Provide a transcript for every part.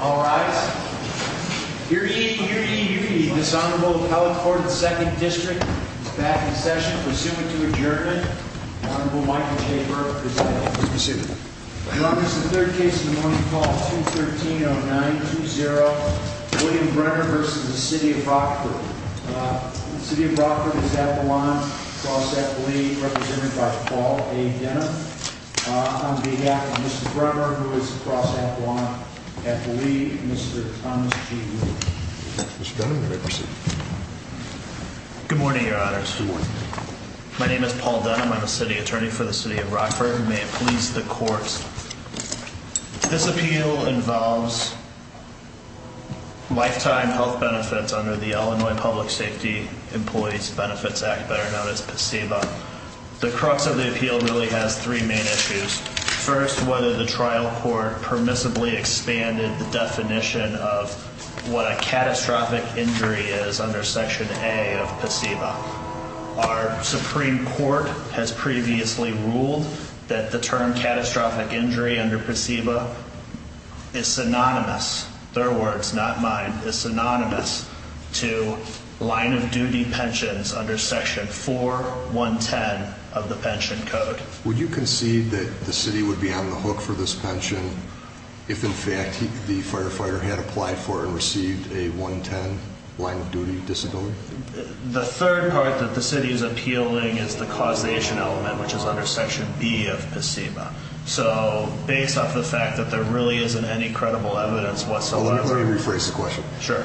All rise. Hear ye, hear ye, hear ye. This Honorable Appellate Court in the 2nd District is back in session, pursuant to adjournment. The Honorable Michael J. Burke presiding. Mr. Superior. Your Honor, this is the third case in the morning. Call 213-0920, William Bremer v. City of Rockford. City of Rockford is at the line, cross at the lead, represented by Paul A. Denham. On behalf of Mr. Bremer, who is across at the lead, Mr. Thomas G. Wood. Mr. Denham, you may proceed. Good morning, Your Honors. Good morning. My name is Paul Denham. I'm a City Attorney for the City of Rockford, and may it please the Court, this appeal involves lifetime health benefits under the Illinois Public Safety Employees Benefits Act, better known as PSEBA. The crux of the appeal really has three main issues. First, whether the trial court permissibly expanded the definition of what a catastrophic injury is under Section A of PSEBA. Our Supreme Court has previously ruled that the term catastrophic injury under PSEBA is synonymous, their words, not mine, is synonymous to line-of-duty pensions under Section 4.110 of the pension code. Would you concede that the City would be on the hook for this pension if, in fact, the firefighter had applied for and received a 110 line-of-duty disability? The third part that the City is appealing is the causation element, which is under Section B of PSEBA. So based off the fact that there really isn't any credible evidence whatsoever. Well, let me rephrase the question. Sure.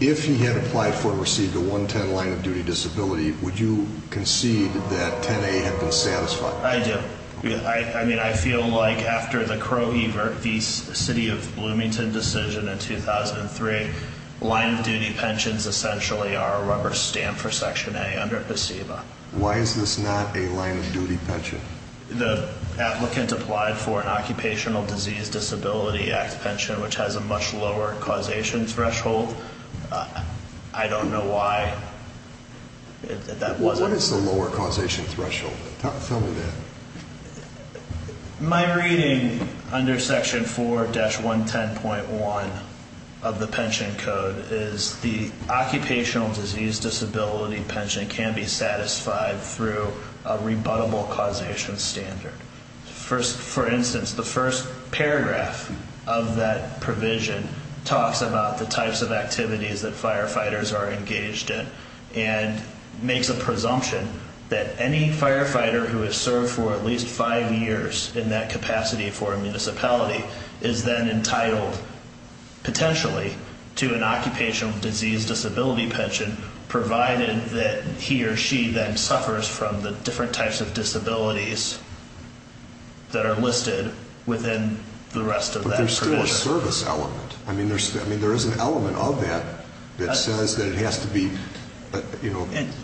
If he had applied for and received a 110 line-of-duty disability, would you concede that 10A had been satisfied? I do. I mean, I feel like after the Crowe-Evert v. City of Bloomington decision in 2003, line-of-duty pensions essentially are a rubber stamp for Section A under PSEBA. Why is this not a line-of-duty pension? The applicant applied for an Occupational Disease Disability Act pension, which has a much lower causation threshold. I don't know why that wasn't. What is the lower causation threshold? Tell me that. My reading under Section 4-110.1 of the pension code is the occupational disease disability pension can be satisfied through a rebuttable causation standard. For instance, the first paragraph of that provision talks about the types of activities that firefighters are engaged in and makes a presumption that any firefighter who has served for at least five years in that capacity for a municipality is then entitled, potentially, to an occupational disease disability pension, provided that he or she then suffers from the different types of disabilities that are listed within the rest of that provision. But there's still a service element. I mean, there is an element of that that says that it has to be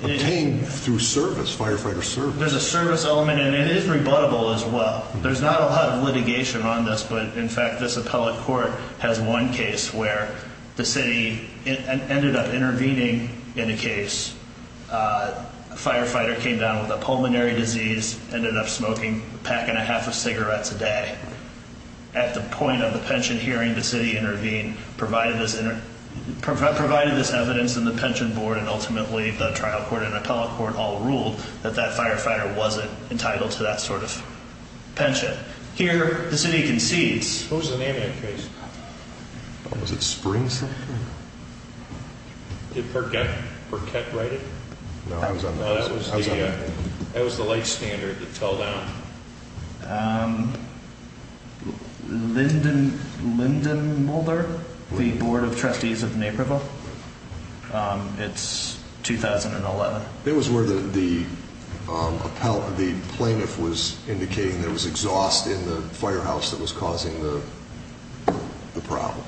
obtained through service, firefighter service. There's a service element, and it is rebuttable as well. There's not a lot of litigation on this, but, in fact, this appellate court has one case where the city ended up intervening in a case. A firefighter came down with a pulmonary disease, ended up smoking a pack and a half of cigarettes a day. At the point of the pension hearing, the city intervened, provided this evidence in the pension board, and ultimately the trial court and appellate court all ruled that that firefighter wasn't entitled to that sort of pension. Here, the city concedes. What was the name of that case? Was it Springs? Did Perquette write it? No, I was on that one. That was the light standard, the telldown. Lyndon Mulder, the board of trustees of Naperville. It's 2011. It was where the plaintiff was indicating there was exhaust in the firehouse that was causing the problem.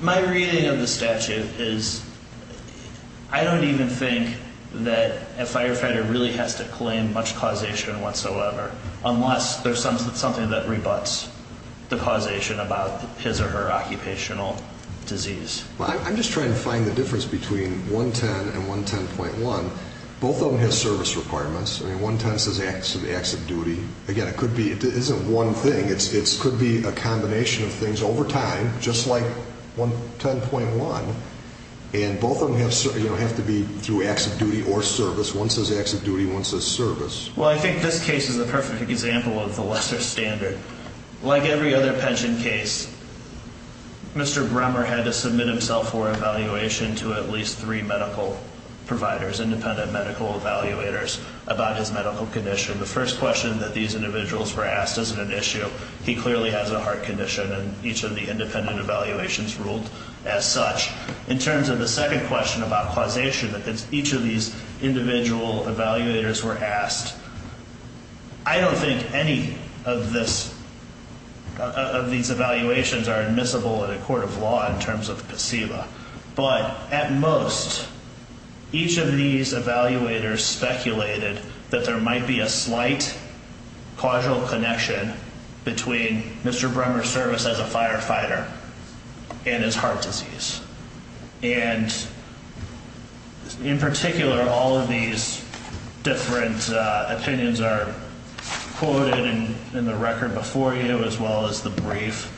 My reading of the statute is I don't even think that a firefighter really has to claim much causation whatsoever, unless there's something that rebuts the causation about his or her occupational disease. Well, I'm just trying to find the difference between 110 and 110.1. Both of them have service requirements. I mean, 110 says acts of duty. Again, it could be it isn't one thing. It could be a combination of things over time, just like 110.1, and both of them have to be through acts of duty or service. One says acts of duty, one says service. Well, I think this case is a perfect example of the lesser standard. Like every other pension case, Mr. Bremmer had to submit himself for evaluation to at least three medical providers, independent medical evaluators, about his medical condition. The first question that these individuals were asked isn't an issue. He clearly has a heart condition, and each of the independent evaluations ruled as such. In terms of the second question about causation, because each of these individual evaluators were asked, I don't think any of these evaluations are admissible in a court of law in terms of placebo, but at most each of these evaluators speculated that there might be a slight causal connection between Mr. Bremmer's service as a firefighter and his heart disease. And in particular, all of these different opinions are quoted in the record before you as well as the brief.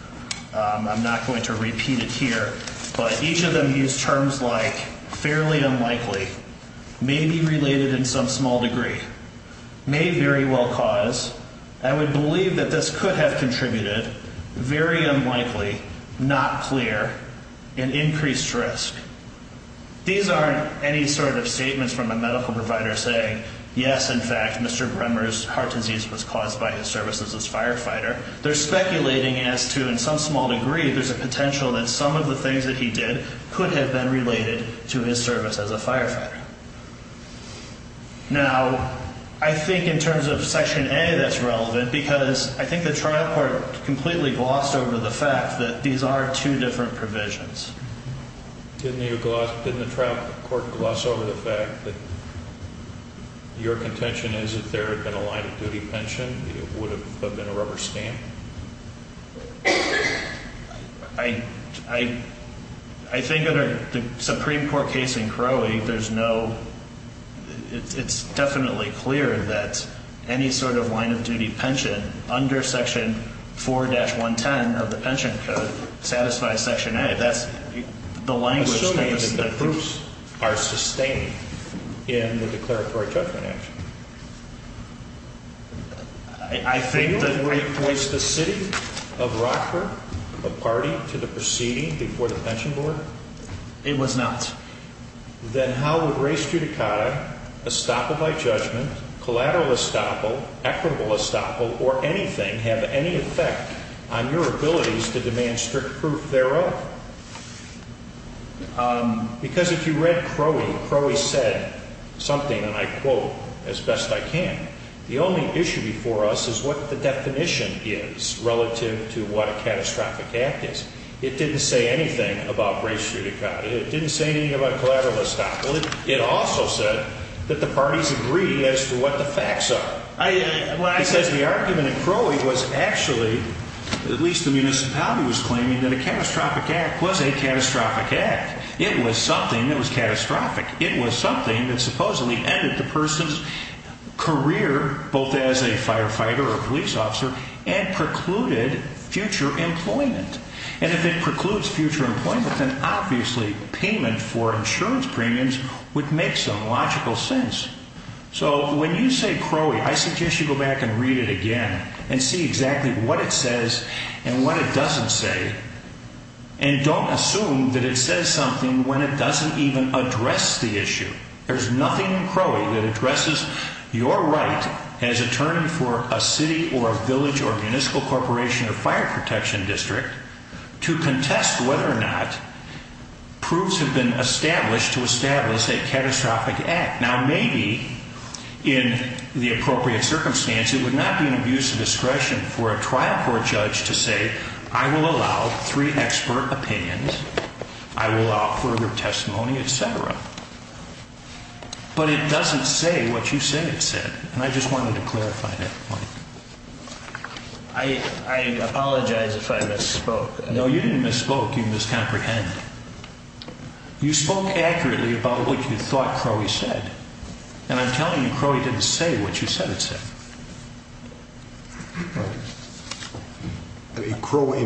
I'm not going to repeat it here, but each of them used terms like fairly unlikely, maybe related in some small degree, may very well cause, I would believe that this could have contributed, very unlikely, not clear, an increased risk. These aren't any sort of statements from a medical provider saying, yes, in fact, Mr. Bremmer's heart disease was caused by his service as a firefighter. They're speculating as to, in some small degree, there's a potential that some of the things that he did could have been related to his service as a firefighter. Now, I think in terms of Section A that's relevant because I think the trial court completely glossed over the fact that these are two different provisions. Didn't the trial court gloss over the fact that your contention is that there had been a line of duty pension? That it would have been a rubber stamp? I think under the Supreme Court case in Crowley, there's no, it's definitely clear that any sort of line of duty pension under Section 4-110 of the pension code satisfies Section A. Assuming that the proofs are sustained in the declaratory judgment action. I think that... Was the city of Rockford a party to the proceeding before the pension board? It was not. Then how would res judicata, estoppel by judgment, collateral estoppel, equitable estoppel, or anything have any effect on your abilities to demand strict proof thereof? Because if you read Crowley, Crowley said something, and I quote as best I can, the only issue before us is what the definition is relative to what a catastrophic act is. It didn't say anything about res judicata. It didn't say anything about collateral estoppel. It also said that the parties agree as to what the facts are. He says the argument in Crowley was actually, at least the municipality was claiming, that a catastrophic act was a catastrophic act. It was something that was catastrophic. It was something that supposedly ended the person's career, both as a firefighter or a police officer, and precluded future employment. And if it precludes future employment, then obviously payment for insurance premiums would make some logical sense. So when you say Crowley, I suggest you go back and read it again and see exactly what it says and what it doesn't say, and don't assume that it says something when it doesn't even address the issue. There's nothing in Crowley that addresses your right as attorney for a city or a village or a municipal corporation or fire protection district to contest whether or not proofs have been established to establish a catastrophic act. Now, maybe in the appropriate circumstance, it would not be an abuse of discretion for a trial court judge to say, I will allow three expert opinions, I will allow further testimony, et cetera. But it doesn't say what you said it said, and I just wanted to clarify that point. I apologize if I misspoke. No, you didn't misspoke. You miscomprehended. You spoke accurately about what you thought Crowley said, and I'm telling you Crowley didn't say what you said it said. Right. In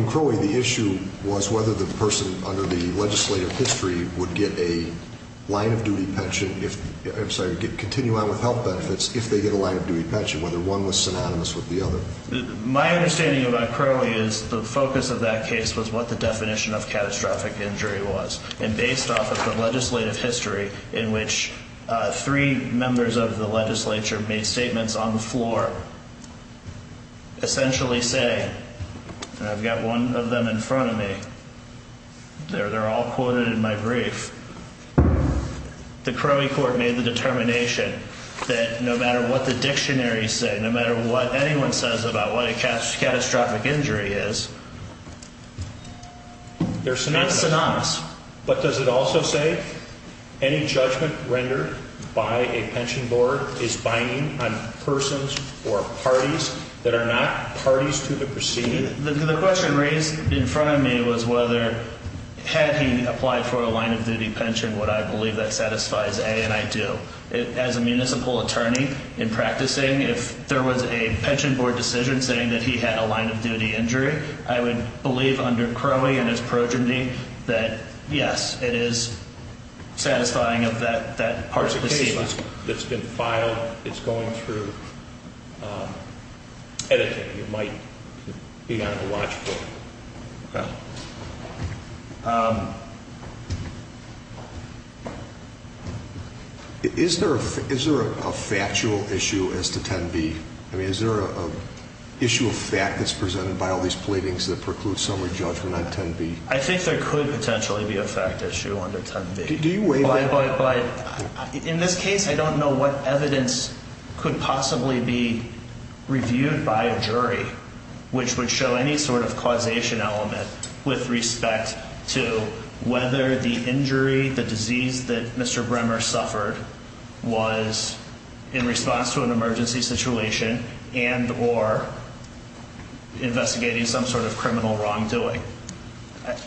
Crowley, the issue was whether the person under the legislative history would get a line-of-duty pension if, I'm sorry, continue on with health benefits if they get a line-of-duty pension, whether one was synonymous with the other. My understanding about Crowley is the focus of that case was what the definition of catastrophic injury was, and based off of the legislative history in which three members of the legislature made statements on the floor, essentially saying, and I've got one of them in front of me, they're all quoted in my brief, the Crowley court made the determination that no matter what the dictionary said, no matter what anyone says about what a catastrophic injury is, that's synonymous. But does it also say any judgment rendered by a pension board is binding on persons or parties that are not parties to the proceeding? The question raised in front of me was whether, had he applied for a line-of-duty pension, would I believe that satisfies A, and I do. As a municipal attorney in practicing, if there was a pension board decision saying that he had a line-of-duty injury, I would believe under Crowley and his progeny that, yes, it is satisfying of that part of the statement. It's been filed. It's going through editing. It might be on the watchbook. Okay. Is there a factual issue as to 10B? I mean, is there an issue of fact that's presented by all these pleadings that preclude summary judgment on 10B? I think there could potentially be a fact issue under 10B. Do you weigh that? In this case, I don't know what evidence could possibly be reviewed by a jury, which would show any sort of causation element with respect to whether the injury, the disease that Mr. Bremer suffered, was in response to an emergency situation and or investigating some sort of criminal wrongdoing.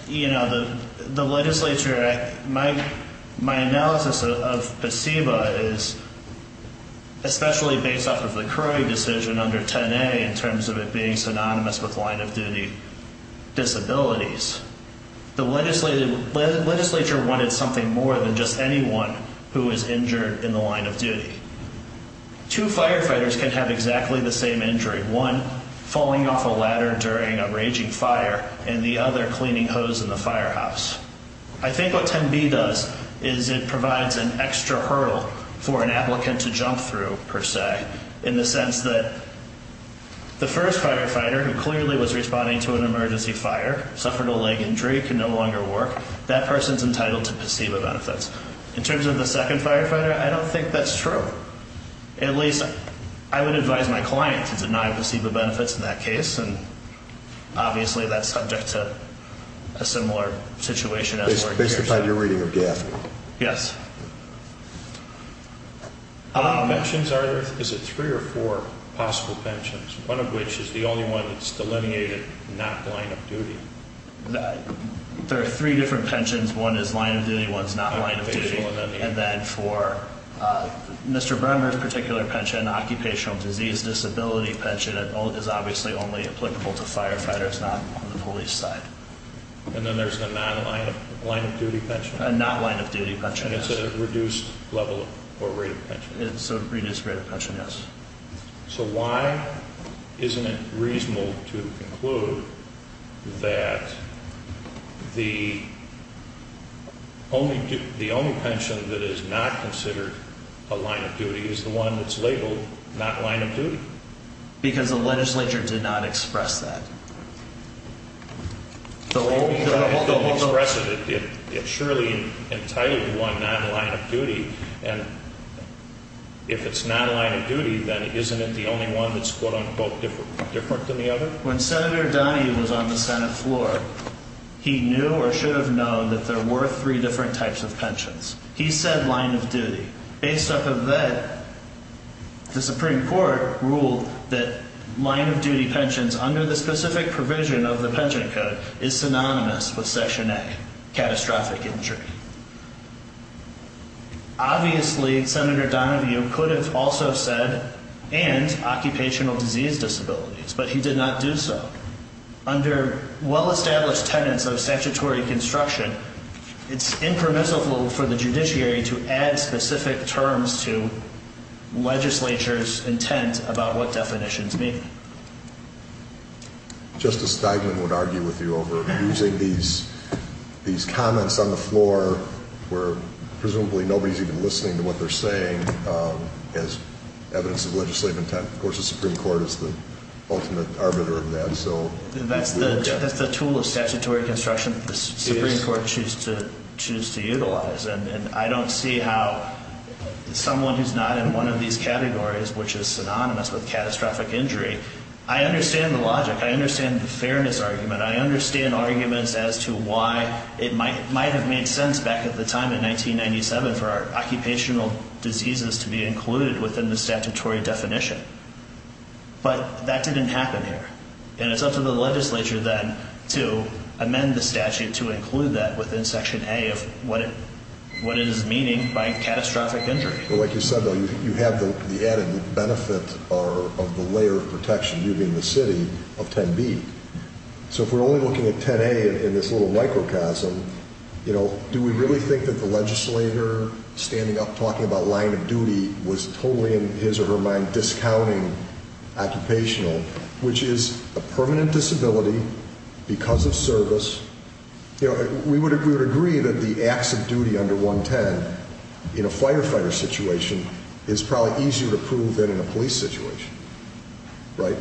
You know, the legislature, my analysis of PSEBA is especially based off of the Crowley decision under 10A in terms of it being synonymous with line-of-duty disabilities. The legislature wanted something more than just anyone who was injured in the line of duty. Two firefighters can have exactly the same injury. One falling off a ladder during a raging fire and the other cleaning hose in the firehouse. I think what 10B does is it provides an extra hurdle for an applicant to jump through, per se, in the sense that the first firefighter, who clearly was responding to an emergency fire, suffered a leg injury, could no longer work. That person's entitled to PSEBA benefits. In terms of the second firefighter, I don't think that's true. At least, I would advise my client to deny PSEBA benefits in that case. Obviously, that's subject to a similar situation. Based upon your reading of GAF? Yes. How many pensions are there? Is it three or four possible pensions? One of which is the only one that's delineated not line-of-duty? There are three different pensions. One is line-of-duty, one is not line-of-duty. And then for Mr. Bremmer's particular pension, occupational disease disability pension, is obviously only applicable to firefighters, not on the police side. And then there's a non-line-of-duty pension? A not-line-of-duty pension, yes. And it's a reduced level or rate of pension? It's a reduced rate of pension, yes. So why isn't it reasonable to conclude that the only pension that is not considered a line-of-duty is the one that's labeled not line-of-duty? Because the legislature did not express that. Hold on, hold on. It surely entitled one not line-of-duty, and if it's not line-of-duty, then isn't it the only one that's quote-unquote different from the other? When Senator Donahue was on the Senate floor, he knew or should have known that there were three different types of pensions. He said line-of-duty. Based off of that, the Supreme Court ruled that line-of-duty pensions under the specific provision of the Pension Code is synonymous with Section A, catastrophic injury. Obviously, Senator Donahue could have also said and occupational disease disabilities, but he did not do so. Under well-established tenets of statutory construction, it's impermissible for the judiciary to add specific terms to legislature's intent about what definitions mean. Justice Steigman would argue with you over using these comments on the floor where presumably nobody's even listening to what they're saying as evidence of legislative intent. Of course, the Supreme Court is the ultimate arbiter of that. That's the tool of statutory construction that the Supreme Court chooses to utilize. I don't see how someone who's not in one of these categories, which is synonymous with catastrophic injury, I understand the logic. I understand the fairness argument. I understand arguments as to why it might have made sense back at the time in 1997 for occupational diseases to be included within the statutory definition. But that didn't happen here. And it's up to the legislature then to amend the statute to include that within Section A of what it is meaning by catastrophic injury. Well, like you said, though, you have the added benefit of the layer of protection, you being the city, of 10B. So if we're only looking at 10A in this little microcosm, do we really think that the legislator standing up talking about line of duty was totally in his or her mind discounting occupational, which is a permanent disability because of service? We would agree that the acts of duty under 110 in a firefighter situation is probably easier to prove than in a police situation, right?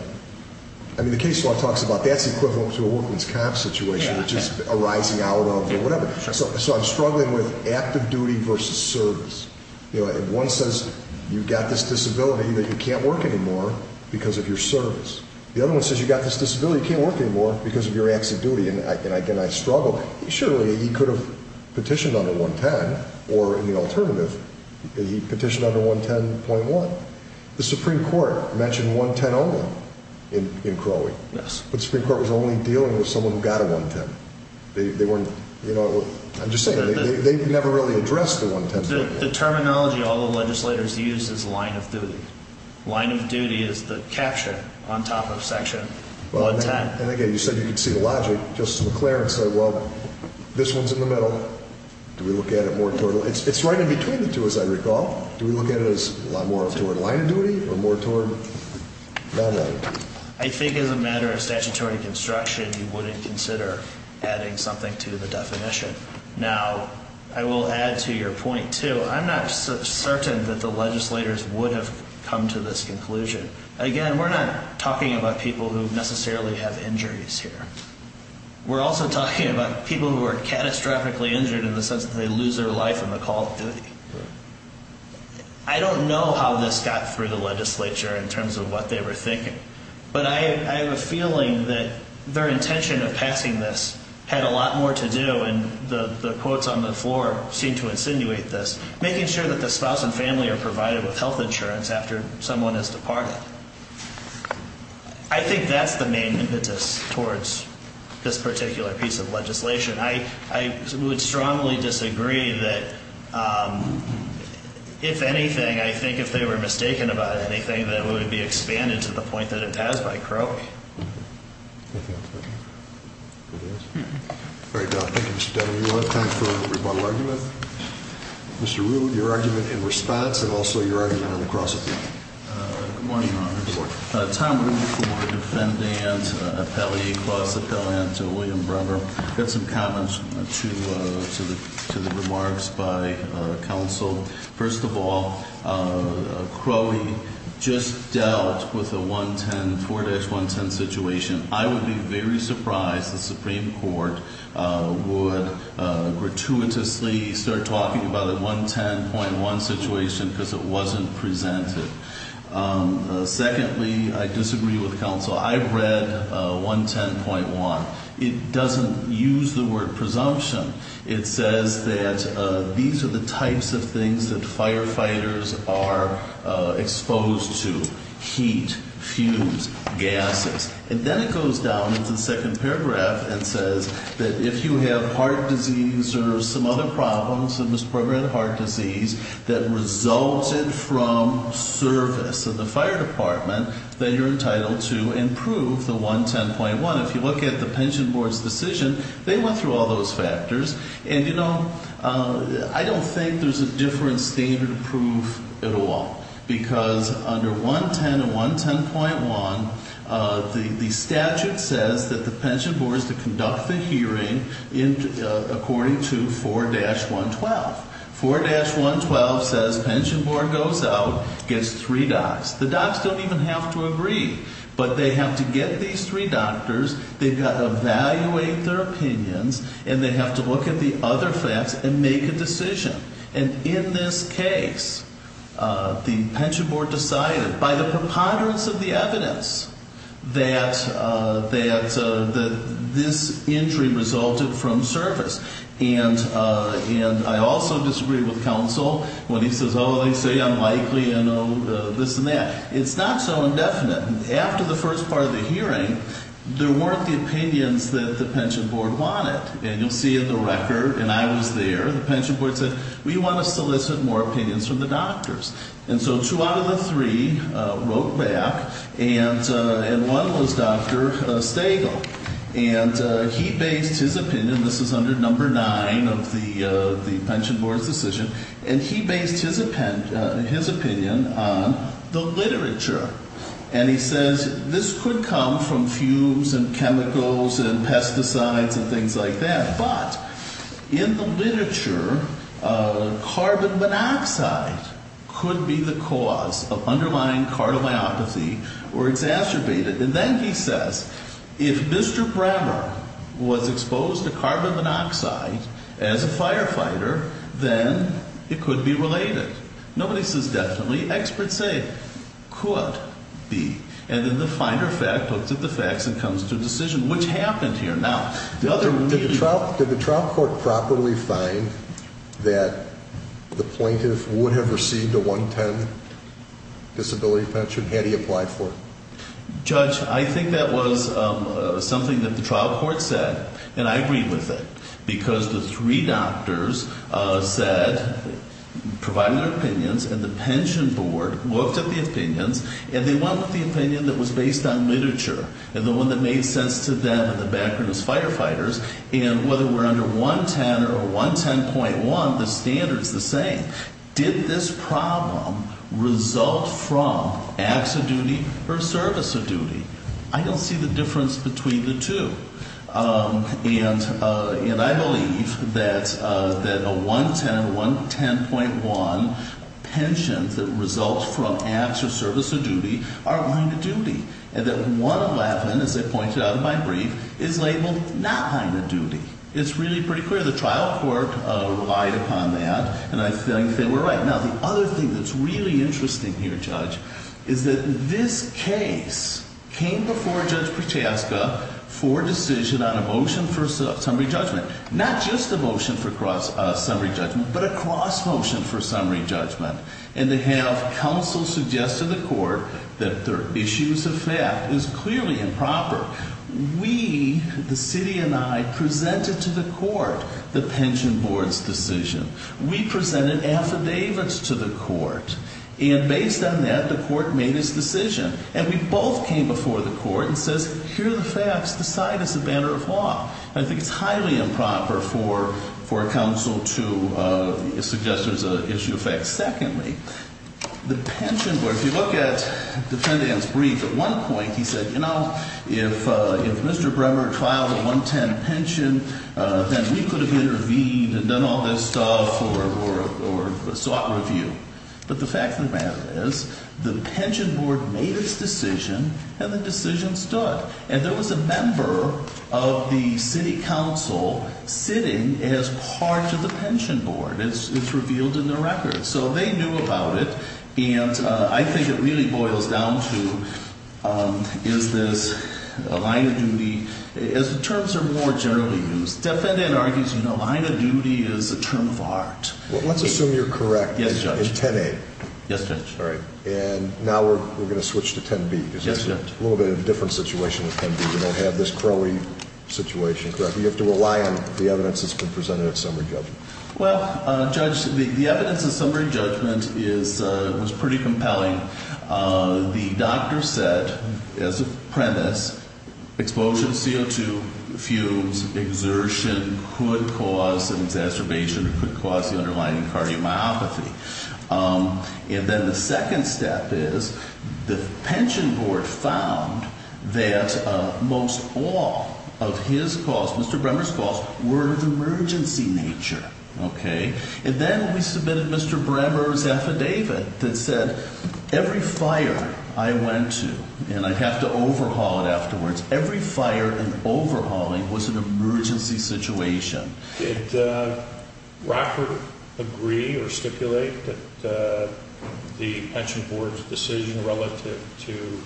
I mean, the case law talks about that's equivalent to a workman's comp situation, which is a rising out of or whatever. So I'm struggling with active duty versus service. One says you've got this disability that you can't work anymore because of your service. The other one says you've got this disability, you can't work anymore because of your acts of duty. And again, I struggle. Surely, he could have petitioned under 110, or in the alternative, he petitioned under 110.1. The Supreme Court mentioned 110 only in Crowley. Yes. But the Supreme Court was only dealing with someone who got a 110. They weren't, you know, I'm just saying, they've never really addressed the 110. The terminology all the legislators use is line of duty. Line of duty is the caption on top of section 110. And again, you said you could see the logic. Justice McClaren said, well, this one's in the middle. Do we look at it more toward, it's right in between the two, as I recall. Do we look at it as more toward line of duty or more toward line of duty? I think as a matter of statutory construction, you wouldn't consider adding something to the definition. Now, I will add to your point, too. I'm not certain that the legislators would have come to this conclusion. Again, we're not talking about people who necessarily have injuries here. We're also talking about people who are catastrophically injured in the sense that they lose their life in the call of duty. I don't know how this got through the legislature in terms of what they were thinking. But I have a feeling that their intention of passing this had a lot more to do, and the quotes on the floor seem to insinuate this, making sure that the spouse and family are provided with health insurance after someone has departed. I think that's the main impetus towards this particular piece of legislation. I would strongly disagree that, if anything, I think if they were mistaken about anything, that it would be expanded to the point that it has by Crowley. Thank you, Mr. Denham. Do we have time for a rebuttal argument? Mr. Rood, your argument in response and also your argument on the cross-examination. Good morning, Your Honors. Tom Rood for Defendant Appellee, Cross-Appellant William Brewer. I've got some comments to the remarks by counsel. First of all, Crowley just dealt with the 4-110 situation. I would be very surprised the Supreme Court would gratuitously start talking about a 110.1 situation because it wasn't presented. Secondly, I disagree with counsel. I read 110.1. It doesn't use the word presumption. It says that these are the types of things that firefighters are exposed to, heat, fumes, gases. And then it goes down into the second paragraph and says that if you have heart disease or some other problems, a misprogrammed heart disease that resulted from service of the fire department, then you're entitled to improve the 110.1. If you look at the pension board's decision, they went through all those factors. And, you know, I don't think there's a different standard of proof at all because under 110 and 110.1, the statute says that the pension board is to conduct the hearing according to 4-112. 4-112 says pension board goes out, gets three docs. The docs don't even have to agree, but they have to get these three doctors, they've got to evaluate their opinions, and they have to look at the other facts and make a decision. And in this case, the pension board decided, by the preponderance of the evidence, that this injury resulted from service. And I also disagree with counsel when he says, oh, they say unlikely and this and that. It's not so indefinite. After the first part of the hearing, there weren't the opinions that the pension board wanted. And you'll see in the record, and I was there, the pension board said, we want to solicit more opinions from the doctors. And so two out of the three wrote back, and one was Dr. Stagel. And he based his opinion, this is under number nine of the pension board's decision, and he based his opinion on the literature. And he says, this could come from fumes and chemicals and pesticides and things like that, but in the literature, carbon monoxide could be the cause of underlying cardiomyopathy or exacerbated. And then he says, if Mr. Brammer was exposed to carbon monoxide as a firefighter, then it could be related. Nobody says definitely. Experts say it could be. And then the finder fact looks at the facts and comes to a decision, which happened here. Did the trial court properly find that the plaintiff would have received a 110 disability pension had he applied for it? Judge, I think that was something that the trial court said, and I agree with it, because the three doctors said, provided their opinions, and the pension board looked at the opinions, and they went with the opinion that was based on literature, and the one that made sense to them in the background is firefighters, and whether we're under 110 or 110.1, the standard's the same. Did this problem result from acts of duty or service of duty? I don't see the difference between the two. And I believe that a 110 or 110.1 pension that results from acts of service or duty are owing to duty, and that 111, as I pointed out in my brief, is labeled not owing to duty. It's really pretty clear. The trial court relied upon that, and I think they were right. Now, the other thing that's really interesting here, Judge, is that this case came before Judge Prochaska for a decision on a motion for summary judgment, not just a motion for summary judgment, but a cross-motion for summary judgment, and to have counsel suggest to the court that their issues of fact is clearly improper. We, the city and I, presented to the court the pension board's decision. We presented affidavits to the court, and based on that, the court made its decision, and we both came before the court and said, here are the facts. Decide it's a matter of law. I think it's highly improper for a counsel to suggest there's an issue of fact. Secondly, the pension board, if you look at the defendant's brief, at one point he said, you know, if Mr. Bremer filed a 110 pension, then we could have intervened and done all this stuff or sought review. But the fact of the matter is the pension board made its decision, and the decision stood, and there was a member of the city council sitting as part of the pension board. It's revealed in the record. So they knew about it, and I think it really boils down to, is this a line of duty? As the terms are more generally used, the defendant argues, you know, line of duty is a term of art. Let's assume you're correct in 10A. Yes, Judge. All right. And now we're going to switch to 10B. Yes, Judge. Because it's a little bit of a different situation with 10B. We don't have this Crowey situation, correct? You have to rely on the evidence that's been presented at summary judgment. Well, Judge, the evidence at summary judgment was pretty compelling. The doctor said, as a premise, exposure to CO2, fumes, exertion could cause an exacerbation, could cause the underlying cardiomyopathy. And then the second step is the pension board found that most all of his calls, Mr. Bremmer's calls, were of emergency nature, okay? And then we submitted Mr. Bremmer's affidavit that said every fire I went to, and I'd have to overhaul it afterwards, every fire and overhauling was an emergency situation. Did Rockford agree or stipulate that the pension board's decision relative to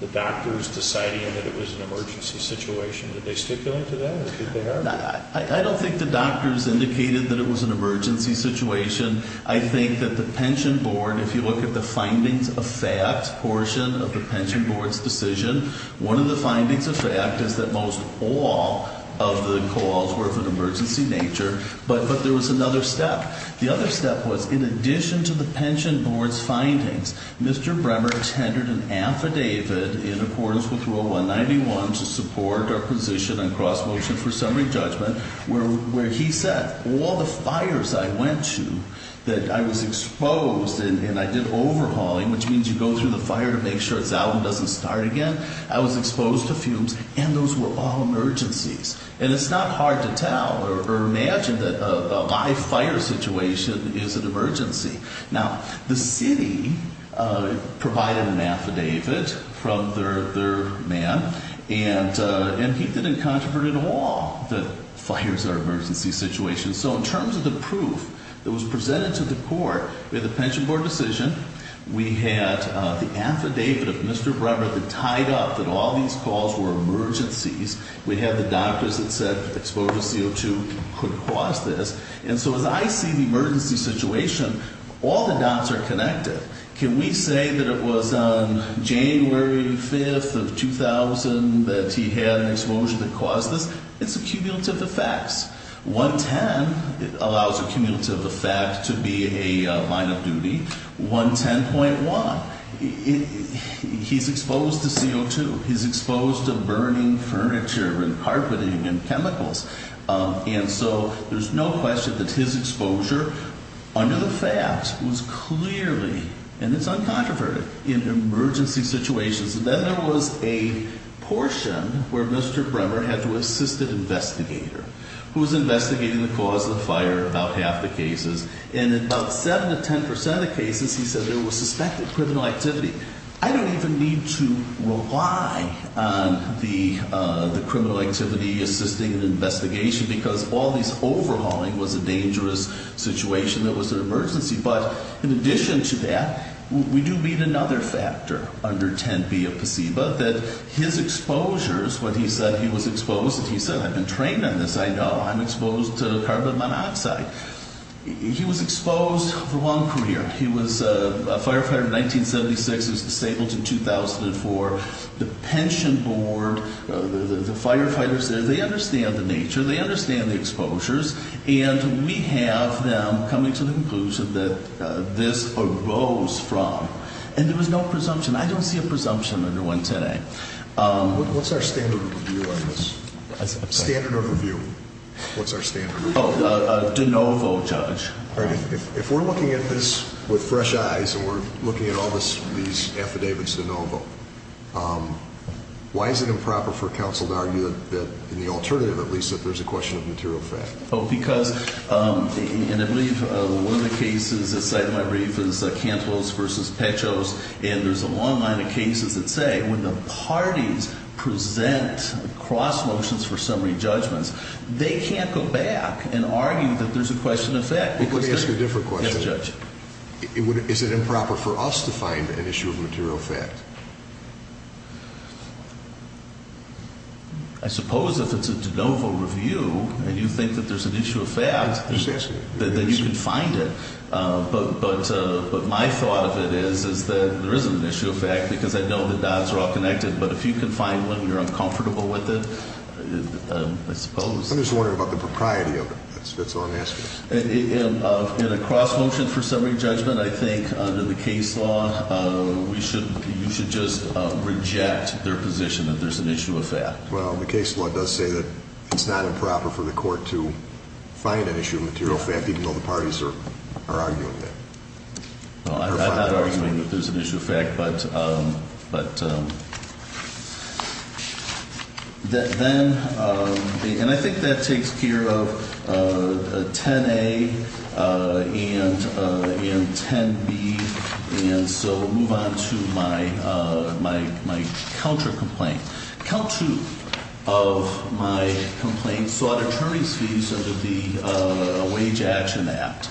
the doctors deciding that it was an emergency situation? Did they stipulate to that? I don't think the doctors indicated that it was an emergency situation. I think that the pension board, if you look at the findings of fact portion of the pension board's decision, one of the findings of fact is that most all of the calls were of an emergency nature, but there was another step. The other step was in addition to the pension board's findings, Mr. Bremmer tendered an affidavit in accordance with Rule 191 to support our position on cross-motion for summary judgment, where he said all the fires I went to that I was exposed and I did overhauling, which means you go through the fire to make sure it's out and doesn't start again. I was exposed to fumes, and those were all emergencies. And it's not hard to tell or imagine that a live fire situation is an emergency. Now, the city provided an affidavit from their man, and he didn't controvert at all that fires are emergency situations. So in terms of the proof that was presented to the court with the pension board decision, we had the affidavit of Mr. Bremmer that tied up that all these calls were emergencies. We had the doctors that said exposure to CO2 could cause this. And so as I see the emergency situation, all the dots are connected. Can we say that it was on January 5th of 2000 that he had an explosion that caused this? It's a cumulative effects. 110 allows a cumulative effect to be a line of duty. 110.1, he's exposed to CO2. He's exposed to burning furniture and carpeting and chemicals. And so there's no question that his exposure under the fact was clearly, and it's uncontroverted, in emergency situations. Then there was a portion where Mr. Bremmer had to assist an investigator who was investigating the cause of the fire, about half the cases. And in about 7% to 10% of cases, he said there was suspected criminal activity. I don't even need to rely on the criminal activity assisting an investigation because all this overhauling was a dangerous situation that was an emergency. But in addition to that, we do need another factor under 10B of placebo, that his exposures, when he said he was exposed, he said, I've been trained on this, I know, I'm exposed to carbon monoxide. He was exposed for one career. He was a firefighter in 1976. He was disabled in 2004. The pension board, the firefighters there, they understand the nature. They understand the exposures. And we have them coming to the conclusion that this arose from. And there was no presumption. I don't see a presumption under 110A. What's our standard of review on this? Standard of review. What's our standard of review? Oh, de novo, Judge. All right. If we're looking at this with fresh eyes and we're looking at all these affidavits de novo, why is it improper for counsel to argue that in the alternative, at least, that there's a question of material fact? Oh, because, and I believe one of the cases that's cited in my brief is Cantwell's versus Pecho's, and there's a long line of cases that say when the parties present cross motions for summary judgments, they can't go back and argue that there's a question of fact. Let me ask you a different question. Yes, Judge. Is it improper for us to find an issue of material fact? I suppose if it's a de novo review and you think that there's an issue of fact, then you can find it. But my thought of it is that there isn't an issue of fact because I know the dots are all connected. But if you can find one and you're uncomfortable with it, I suppose. I'm just wondering about the propriety of it. That's all I'm asking. In a cross motion for summary judgment, I think under the case law, you should just reject their position that there's an issue of fact. Well, the case law does say that it's not improper for the court to find an issue of material fact, even though the parties are arguing that. Well, I'm not arguing that there's an issue of fact, but then, and I think that takes care of 10A and 10B. And so move on to my counter complaint. Count two of my complaints sought attorney's fees under the Wage Action Act.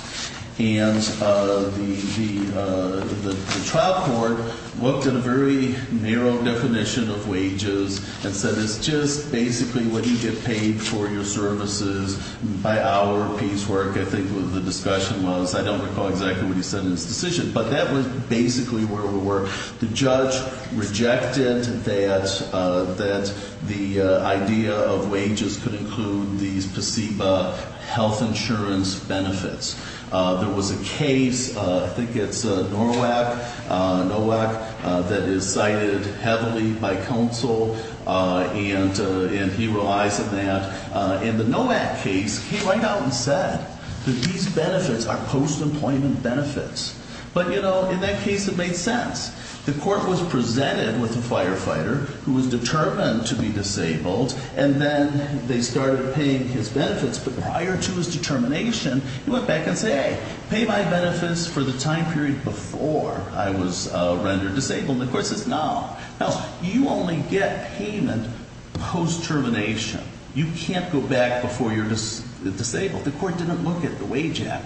And the trial court looked at a very narrow definition of wages and said it's just basically what you get paid for your services by our piecework. I think the discussion was, I don't recall exactly what he said in his decision, but that was basically where we were. The judge rejected that the idea of wages could include these placebo health insurance benefits. There was a case, I think it's NORWAC, that is cited heavily by counsel, and he relies on that. And the NORWAC case came right out and said that these benefits are post-employment benefits. But, you know, in that case, it made sense. The court was presented with a firefighter who was determined to be disabled, and then they started paying his benefits. But prior to his determination, he went back and said, hey, pay my benefits for the time period before I was rendered disabled. And of course, it's now. Now, you only get payment post-termination. You can't go back before you're disabled. The court didn't look at the Wage Act.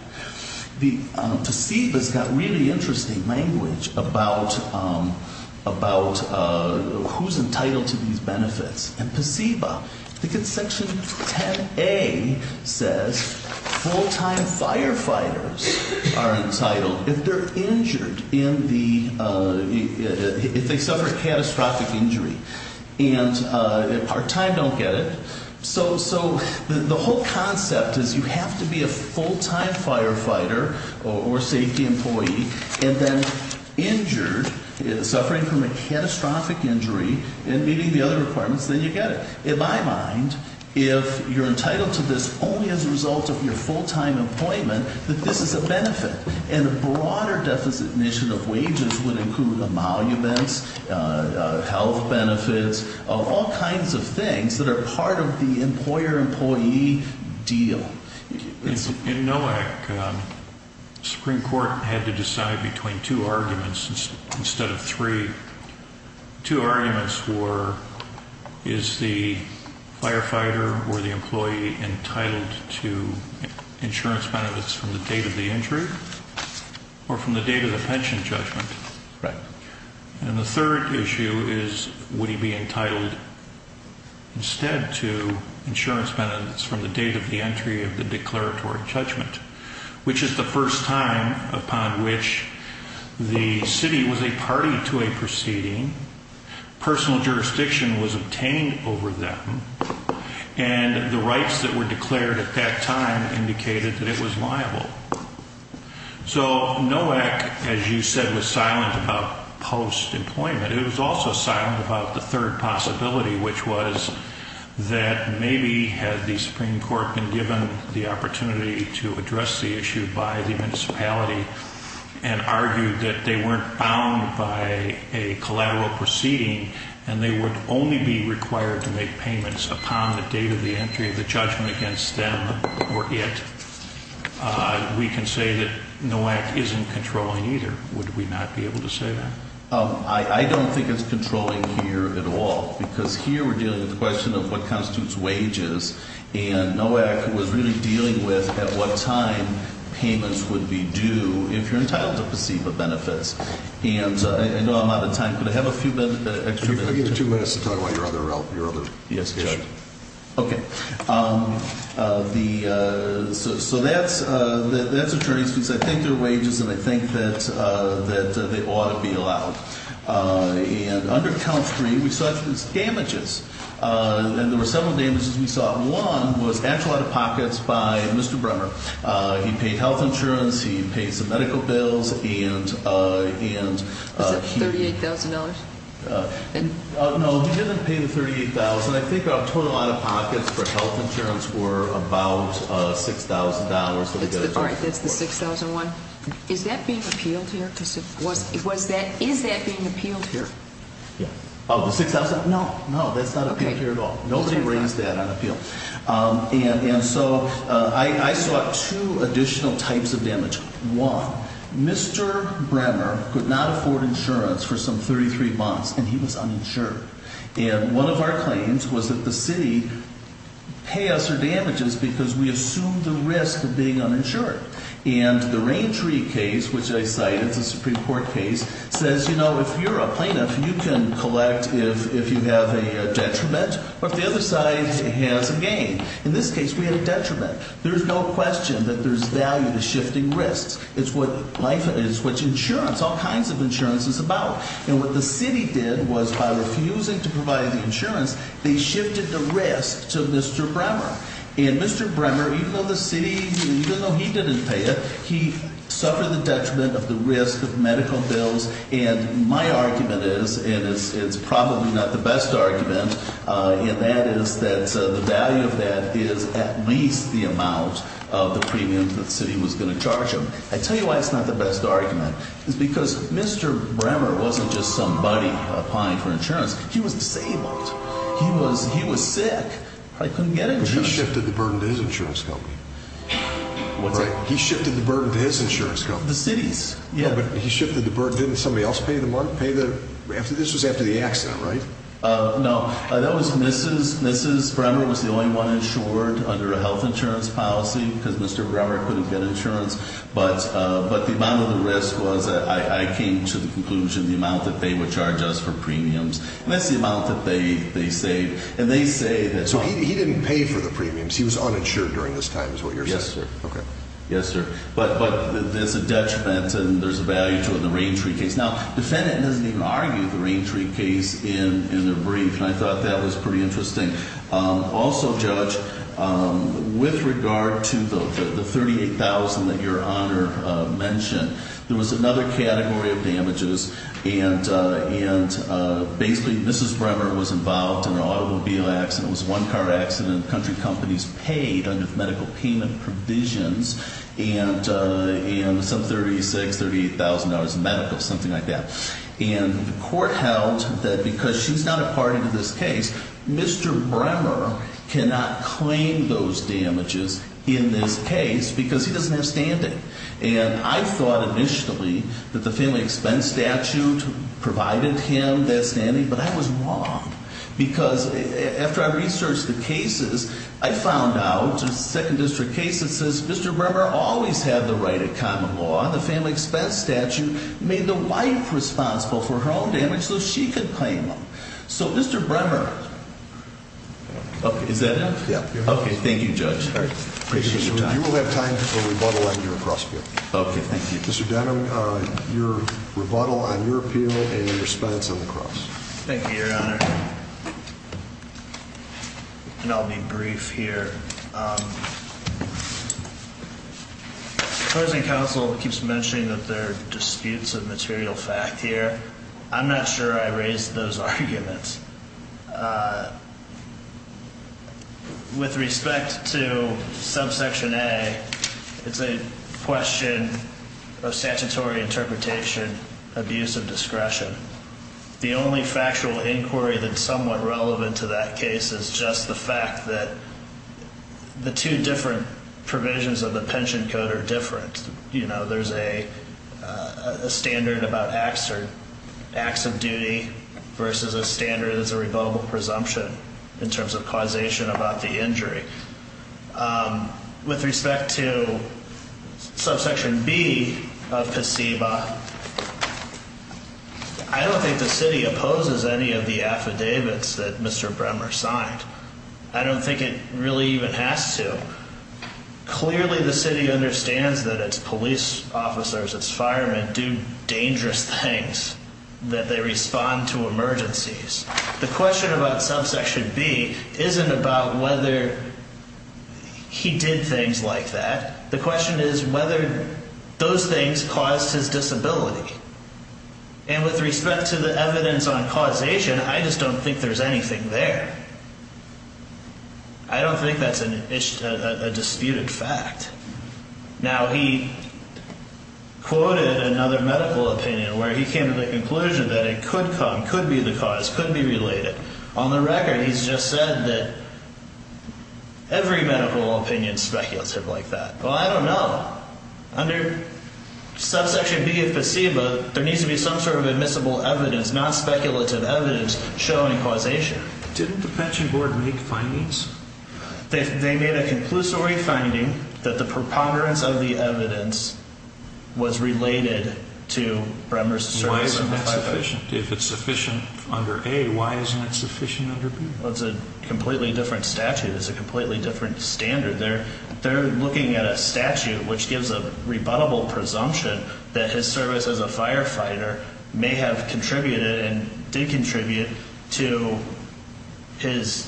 The placebo has got really interesting language about who's entitled to these benefits. And placebo, I think it's section 10A says full-time firefighters are entitled if they're injured in the, if they suffer a catastrophic injury. And part-time don't get it. So the whole concept is you have to be a full-time firefighter or safety employee and then injured, suffering from a catastrophic injury, and meeting the other requirements, then you get it. In my mind, if you're entitled to this only as a result of your full-time employment, that this is a benefit. And a broader deficit initiative of wages would include amalgamates, health benefits, all kinds of things that are part of the employer-employee deal. In NOAC, the Supreme Court had to decide between two arguments instead of three. Two arguments were, is the firefighter or the employee entitled to insurance benefits from the date of the injury or from the date of the pension judgment? Right. And the third issue is would he be entitled instead to insurance benefits from the date of the entry of the declaratory judgment, which is the first time upon which the city was a party to a proceeding, personal jurisdiction was obtained over them, and the rights that were declared at that time indicated that it was liable. So NOAC, as you said, was silent about post-employment. It was also silent about the third possibility, which was that maybe had the Supreme Court been given the opportunity to address the issue by the municipality and argued that they weren't bound by a collateral proceeding and they would only be required to make payments upon the date of the entry of the judgment against them or it, we can say that NOAC isn't controlling either. Would we not be able to say that? I don't think it's controlling here at all because here we're dealing with the question of what constitutes wages, and NOAC was really dealing with at what time payments would be due if you're entitled to placebo benefits. And I know I'm out of time. Could I have a few extra minutes? I'll give you two minutes to talk about your other issue. Yes, Judge. Okay. So that's attorney's fees. I think they're wages, and I think that they ought to be allowed. And under Count 3, we saw some damages, and there were several damages we saw. One was actual out-of-pockets by Mr. Bremer. He paid health insurance. He paid some medical bills, and he… Was it $38,000? No, he didn't pay the $38,000. I think our total out-of-pockets for health insurance were about $6,000. All right, that's the $6,001. Is that being appealed here? Is that being appealed here? Yeah. Oh, the $6,000? No, no, that's not appealed here at all. Nobody raised that on appeal. And so I saw two additional types of damage. One, Mr. Bremer could not afford insurance for some 33 months, and he was uninsured. And one of our claims was that the city pay us our damages because we assumed the risk of being uninsured. And the Raintree case, which I cite, it's a Supreme Court case, says, you know, if you're a plaintiff, you can collect if you have a detriment or if the other side has a gain. In this case, we had a detriment. There's no question that there's value to shifting risks. It's what life is, it's what insurance, all kinds of insurance is about. And what the city did was by refusing to provide the insurance, they shifted the risk to Mr. Bremer. And Mr. Bremer, even though the city, even though he didn't pay it, he suffered the detriment of the risk of medical bills. And my argument is, and it's probably not the best argument, and that is that the value of that is at least the amount of the premium that the city was going to charge him. I tell you why it's not the best argument. It's because Mr. Bremer wasn't just somebody applying for insurance. He was disabled. He was sick. He probably couldn't get insurance. But he shifted the burden to his insurance company. What's that? He shifted the burden to his insurance company. The city's. Yeah, but he shifted the burden. Didn't somebody else pay the month? This was after the accident, right? No. That was Mrs. Bremer was the only one insured under a health insurance policy because Mr. Bremer couldn't get insurance. But the amount of the risk was that I came to the conclusion the amount that they would charge us for premiums. And that's the amount that they saved. And they say that. So he didn't pay for the premiums. He was uninsured during this time is what you're saying. Yes, sir. Okay. Yes, sir. But there's a detriment and there's a value to it in the Rain Tree case. Now, the defendant doesn't even argue the Rain Tree case in a brief. And I thought that was pretty interesting. Also, Judge, with regard to the $38,000 that Your Honor mentioned, there was another category of damages. And basically Mrs. Bremer was involved in an automobile accident. It was a one-car accident. Country companies paid under medical payment provisions and some $36,000, $38,000 in medical, something like that. And the court held that because she's not a party to this case, Mr. Bremer cannot claim those damages in this case because he doesn't have standing. And I thought initially that the family expense statute provided him that standing, but I was wrong. Because after I researched the cases, I found out a second district case that says Mr. Bremer always had the right of common law. The family expense statute made the wife responsible for her own damage so she could claim them. So, Mr. Bremer. Okay. Is that it? Yeah. Okay. Thank you, Judge. I appreciate your time. You will have time for rebuttal on your cross appeal. Okay. Thank you. Mr. Denham, your rebuttal on your appeal and your response on the cross. Thank you, Your Honor. And I'll be brief here. The closing counsel keeps mentioning that there are disputes of material fact here. I'm not sure I raised those arguments. With respect to subsection A, it's a question of statutory interpretation, abuse of discretion. The only factual inquiry that's somewhat relevant to that case is just the fact that the two different provisions of the pension code are different. You know, there's a standard about acts of duty versus a standard that's a revocable presumption in terms of causation about the injury. With respect to subsection B of CEBA, I don't think the city opposes any of the affidavits that Mr. Bremer signed. I don't think it really even has to. Clearly, the city understands that its police officers, its firemen do dangerous things, that they respond to emergencies. The question about subsection B isn't about whether he did things like that. The question is whether those things caused his disability. And with respect to the evidence on causation, I just don't think there's anything there. I don't think that's a disputed fact. Now, he quoted another medical opinion where he came to the conclusion that it could come, could be the cause, could be related. On the record, he's just said that every medical opinion is speculative like that. Well, I don't know. Under subsection B of CEBA, there needs to be some sort of admissible evidence, non-speculative evidence showing causation. Didn't the pension board make findings? They made a conclusory finding that the preponderance of the evidence was related to Bremer's service as a firefighter. Why isn't that sufficient? If it's sufficient under A, why isn't it sufficient under B? Well, it's a completely different statute. It's a completely different standard. They're looking at a statute which gives a rebuttable presumption that his service as a firefighter may have contributed and did contribute to his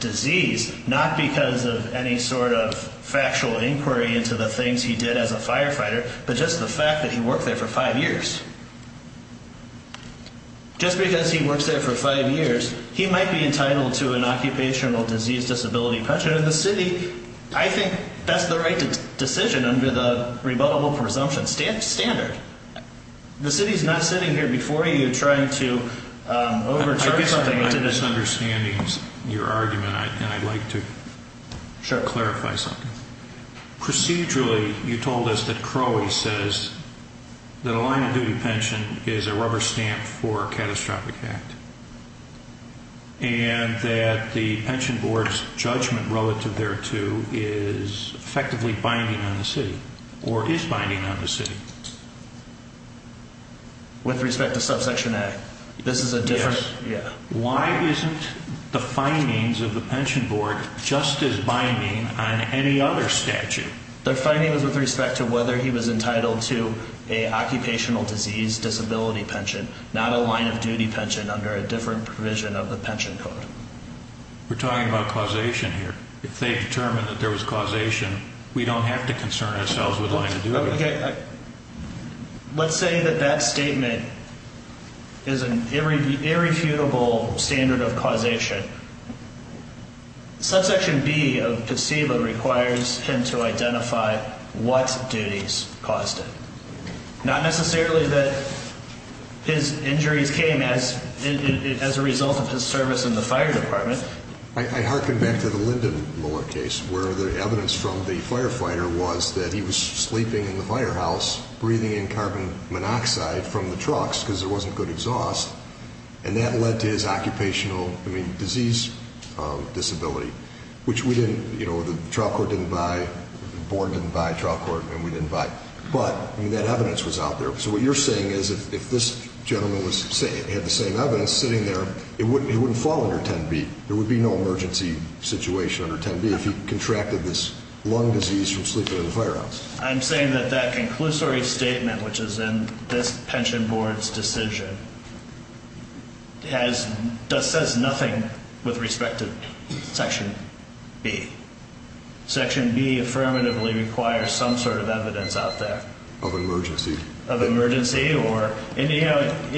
disease, not because of any sort of factual inquiry into the things he did as a firefighter, but just the fact that he worked there for five years. Just because he worked there for five years, he might be entitled to an occupational disease disability pension. And the city, I think that's the right decision under the rebuttable presumption standard. The city's not sitting here before you trying to overturn something. I guess I'm misunderstanding your argument, and I'd like to clarify something. Procedurally, you told us that Crowey says that a line-of-duty pension is a rubber stamp for a catastrophic act, and that the pension board's judgment relative thereto is effectively binding on the city, or is binding on the city. With respect to subsection A, this is a different... Yes. Why isn't the findings of the pension board just as binding on any other statute? The findings with respect to whether he was entitled to an occupational disease disability pension, not a line-of-duty pension under a different provision of the pension code. We're talking about causation here. If they determined that there was causation, we don't have to concern ourselves with line-of-duty. Let's say that that statement is an irrefutable standard of causation. Subsection B of PSEBA requires him to identify what duties caused it. Not necessarily that his injuries came as a result of his service in the fire department. I hearken back to the Lyndon Miller case, where the evidence from the firefighter was that he was sleeping in the firehouse, breathing in carbon monoxide from the trucks because there wasn't good exhaust, and that led to his occupational disease disability, which the trial court didn't buy. The board didn't buy trial court, and we didn't buy. But that evidence was out there. So what you're saying is if this gentleman had the same evidence sitting there, it wouldn't fall under 10B. There would be no emergency situation under 10B if he contracted this lung disease from sleeping in the firehouse. I'm saying that that conclusory statement, which is in this pension board's decision, says nothing with respect to Section B. Section B affirmatively requires some sort of evidence out there. Of emergency. In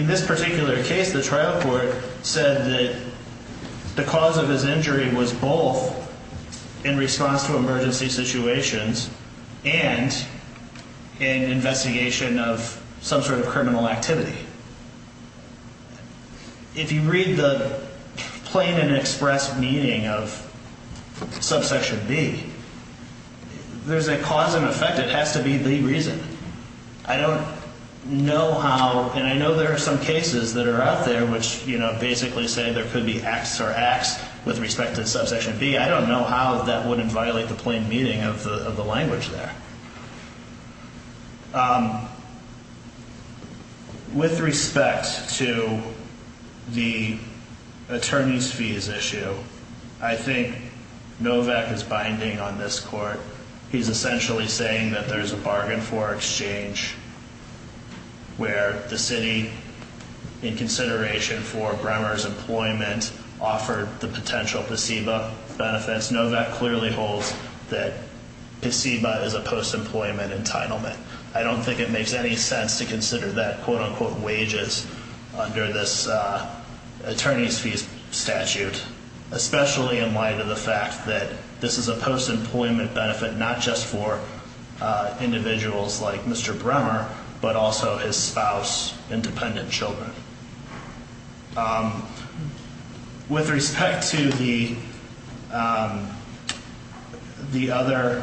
this particular case, the trial court said that the cause of his injury was both in response to emergency situations and an investigation of some sort of criminal activity. If you read the plain and express meaning of subsection B, there's a cause and effect. It has to be the reason. I don't know how, and I know there are some cases that are out there which basically say there could be X or X with respect to subsection B. I don't know how that wouldn't violate the plain meaning of the language there. With respect to the attorney's fees issue, I think Novak is binding on this court. He's essentially saying that there's a bargain for exchange where the city, in consideration for Bremer's employment, offered the potential PCEBA benefits. Novak clearly holds that PCEBA is a post-employment entitlement. I don't think it makes any sense to consider that quote-unquote wages under this attorney's fees statute, especially in light of the fact that this is a post-employment benefit not just for individuals like Mr. Bremer, but also his spouse and dependent children. With respect to the other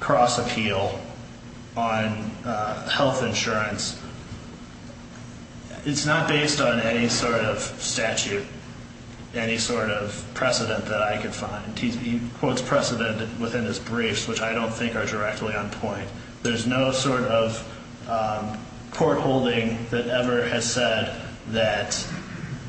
cross-appeal on health insurance, it's not based on any sort of statute, any sort of precedent that I could find. He quotes precedent within his briefs, which I don't think are directly on point. There's no sort of court holding that ever has said that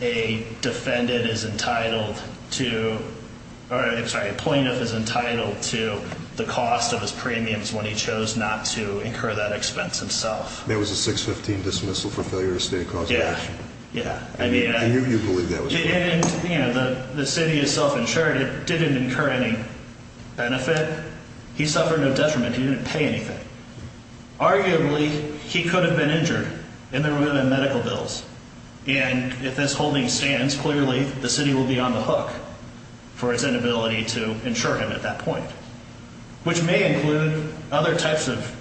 a defendant is entitled to – or, I'm sorry, a plaintiff is entitled to the cost of his premiums when he chose not to incur that expense himself. There was a 615 dismissal for failure to state a cause of action. Yeah, yeah. And you believe that was the case? The city is self-insured. It didn't incur any benefit. He suffered no detriment. He didn't pay anything. Arguably, he could have been injured in the room in medical bills. And if this holding stands, clearly the city will be on the hook for its inability to insure him at that point, which may include other types of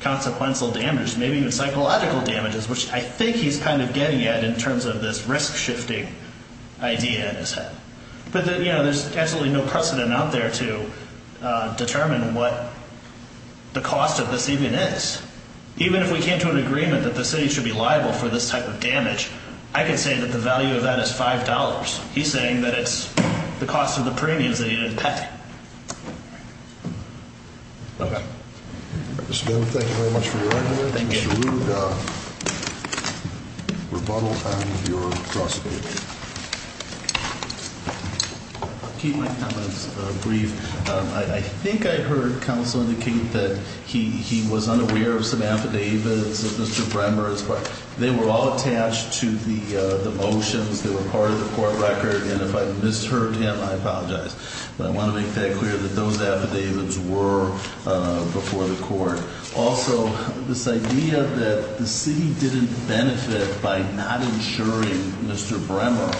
consequential damage, maybe even psychological damages, which I think he's kind of getting at in terms of this risk-shifting idea in his head. But, you know, there's absolutely no precedent out there to determine what the cost of this even is. Even if we came to an agreement that the city should be liable for this type of damage, I can say that the value of that is $5. He's saying that it's the cost of the premiums that he didn't pay. Okay. Mr. Dunn, thank you very much for your argument. Thank you. Mr. Lugar, rebuttal on your prosecution. I'll keep my comments brief. I think I heard counsel indicate that he was unaware of some affidavits of Mr. Bremmer's, but they were all attached to the motions that were part of the court record, and if I've misheard him, I apologize. But I want to make that clear, that those affidavits were before the court. Also, this idea that the city didn't benefit by not insuring Mr. Bremmer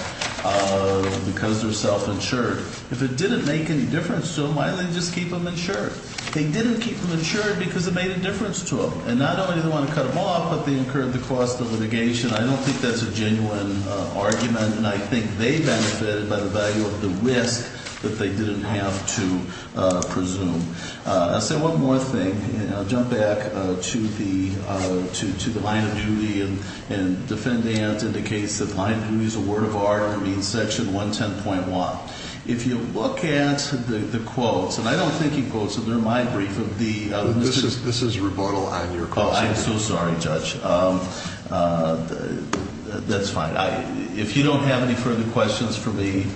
because they're self-insured. If it didn't make any difference to them, why didn't they just keep them insured? They didn't keep them insured because it made a difference to them. And not only did they want to cut them off, but they incurred the cost of litigation. I don't think that's a genuine argument, and I think they benefited by the value of the risk that they didn't have to presume. I'll say one more thing, and I'll jump back to the line of duty, and defendant indicates that line of duty is a word of honor and means section 110.1. If you look at the quotes, and I don't think he quotes them. They're my brief of the Mrs. This is rebuttal on your question. I'm so sorry, Judge. That's fine. If you don't have any further questions for me.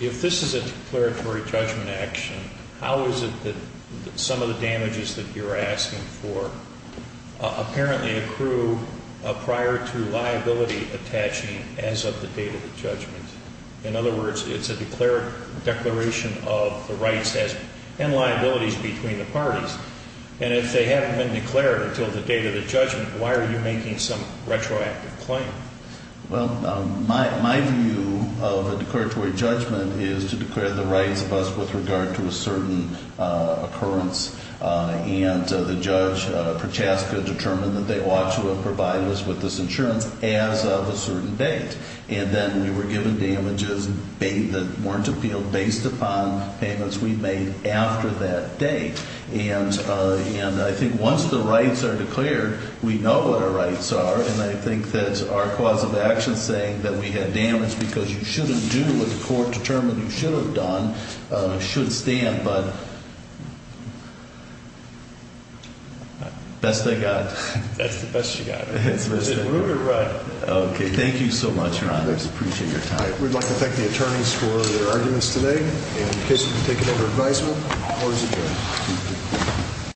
If this is a declaratory judgment action, how is it that some of the damages that you're asking for apparently accrue prior to liability attaching as of the date of the judgment? In other words, it's a declaration of the rights and liabilities between the parties. And if they haven't been declared until the date of the judgment, why are you making some retroactive claim? Well, my view of a declaratory judgment is to declare the rights of us with regard to a certain occurrence, and the judge, Prochaska, determined that they ought to have provided us with this insurance as of a certain date. And then we were given damages that weren't appealed based upon payments we made after that date. And I think once the rights are declared, we know what our rights are, and I think that our cause of action saying that we had damage because you shouldn't do what the court determined you should have done should stand. But. Best I got. That's the best you got. OK. Thank you so much. I appreciate your time. We'd like to thank the attorneys for their arguments today. In case you've been taken under advisement, the floor is adjourned.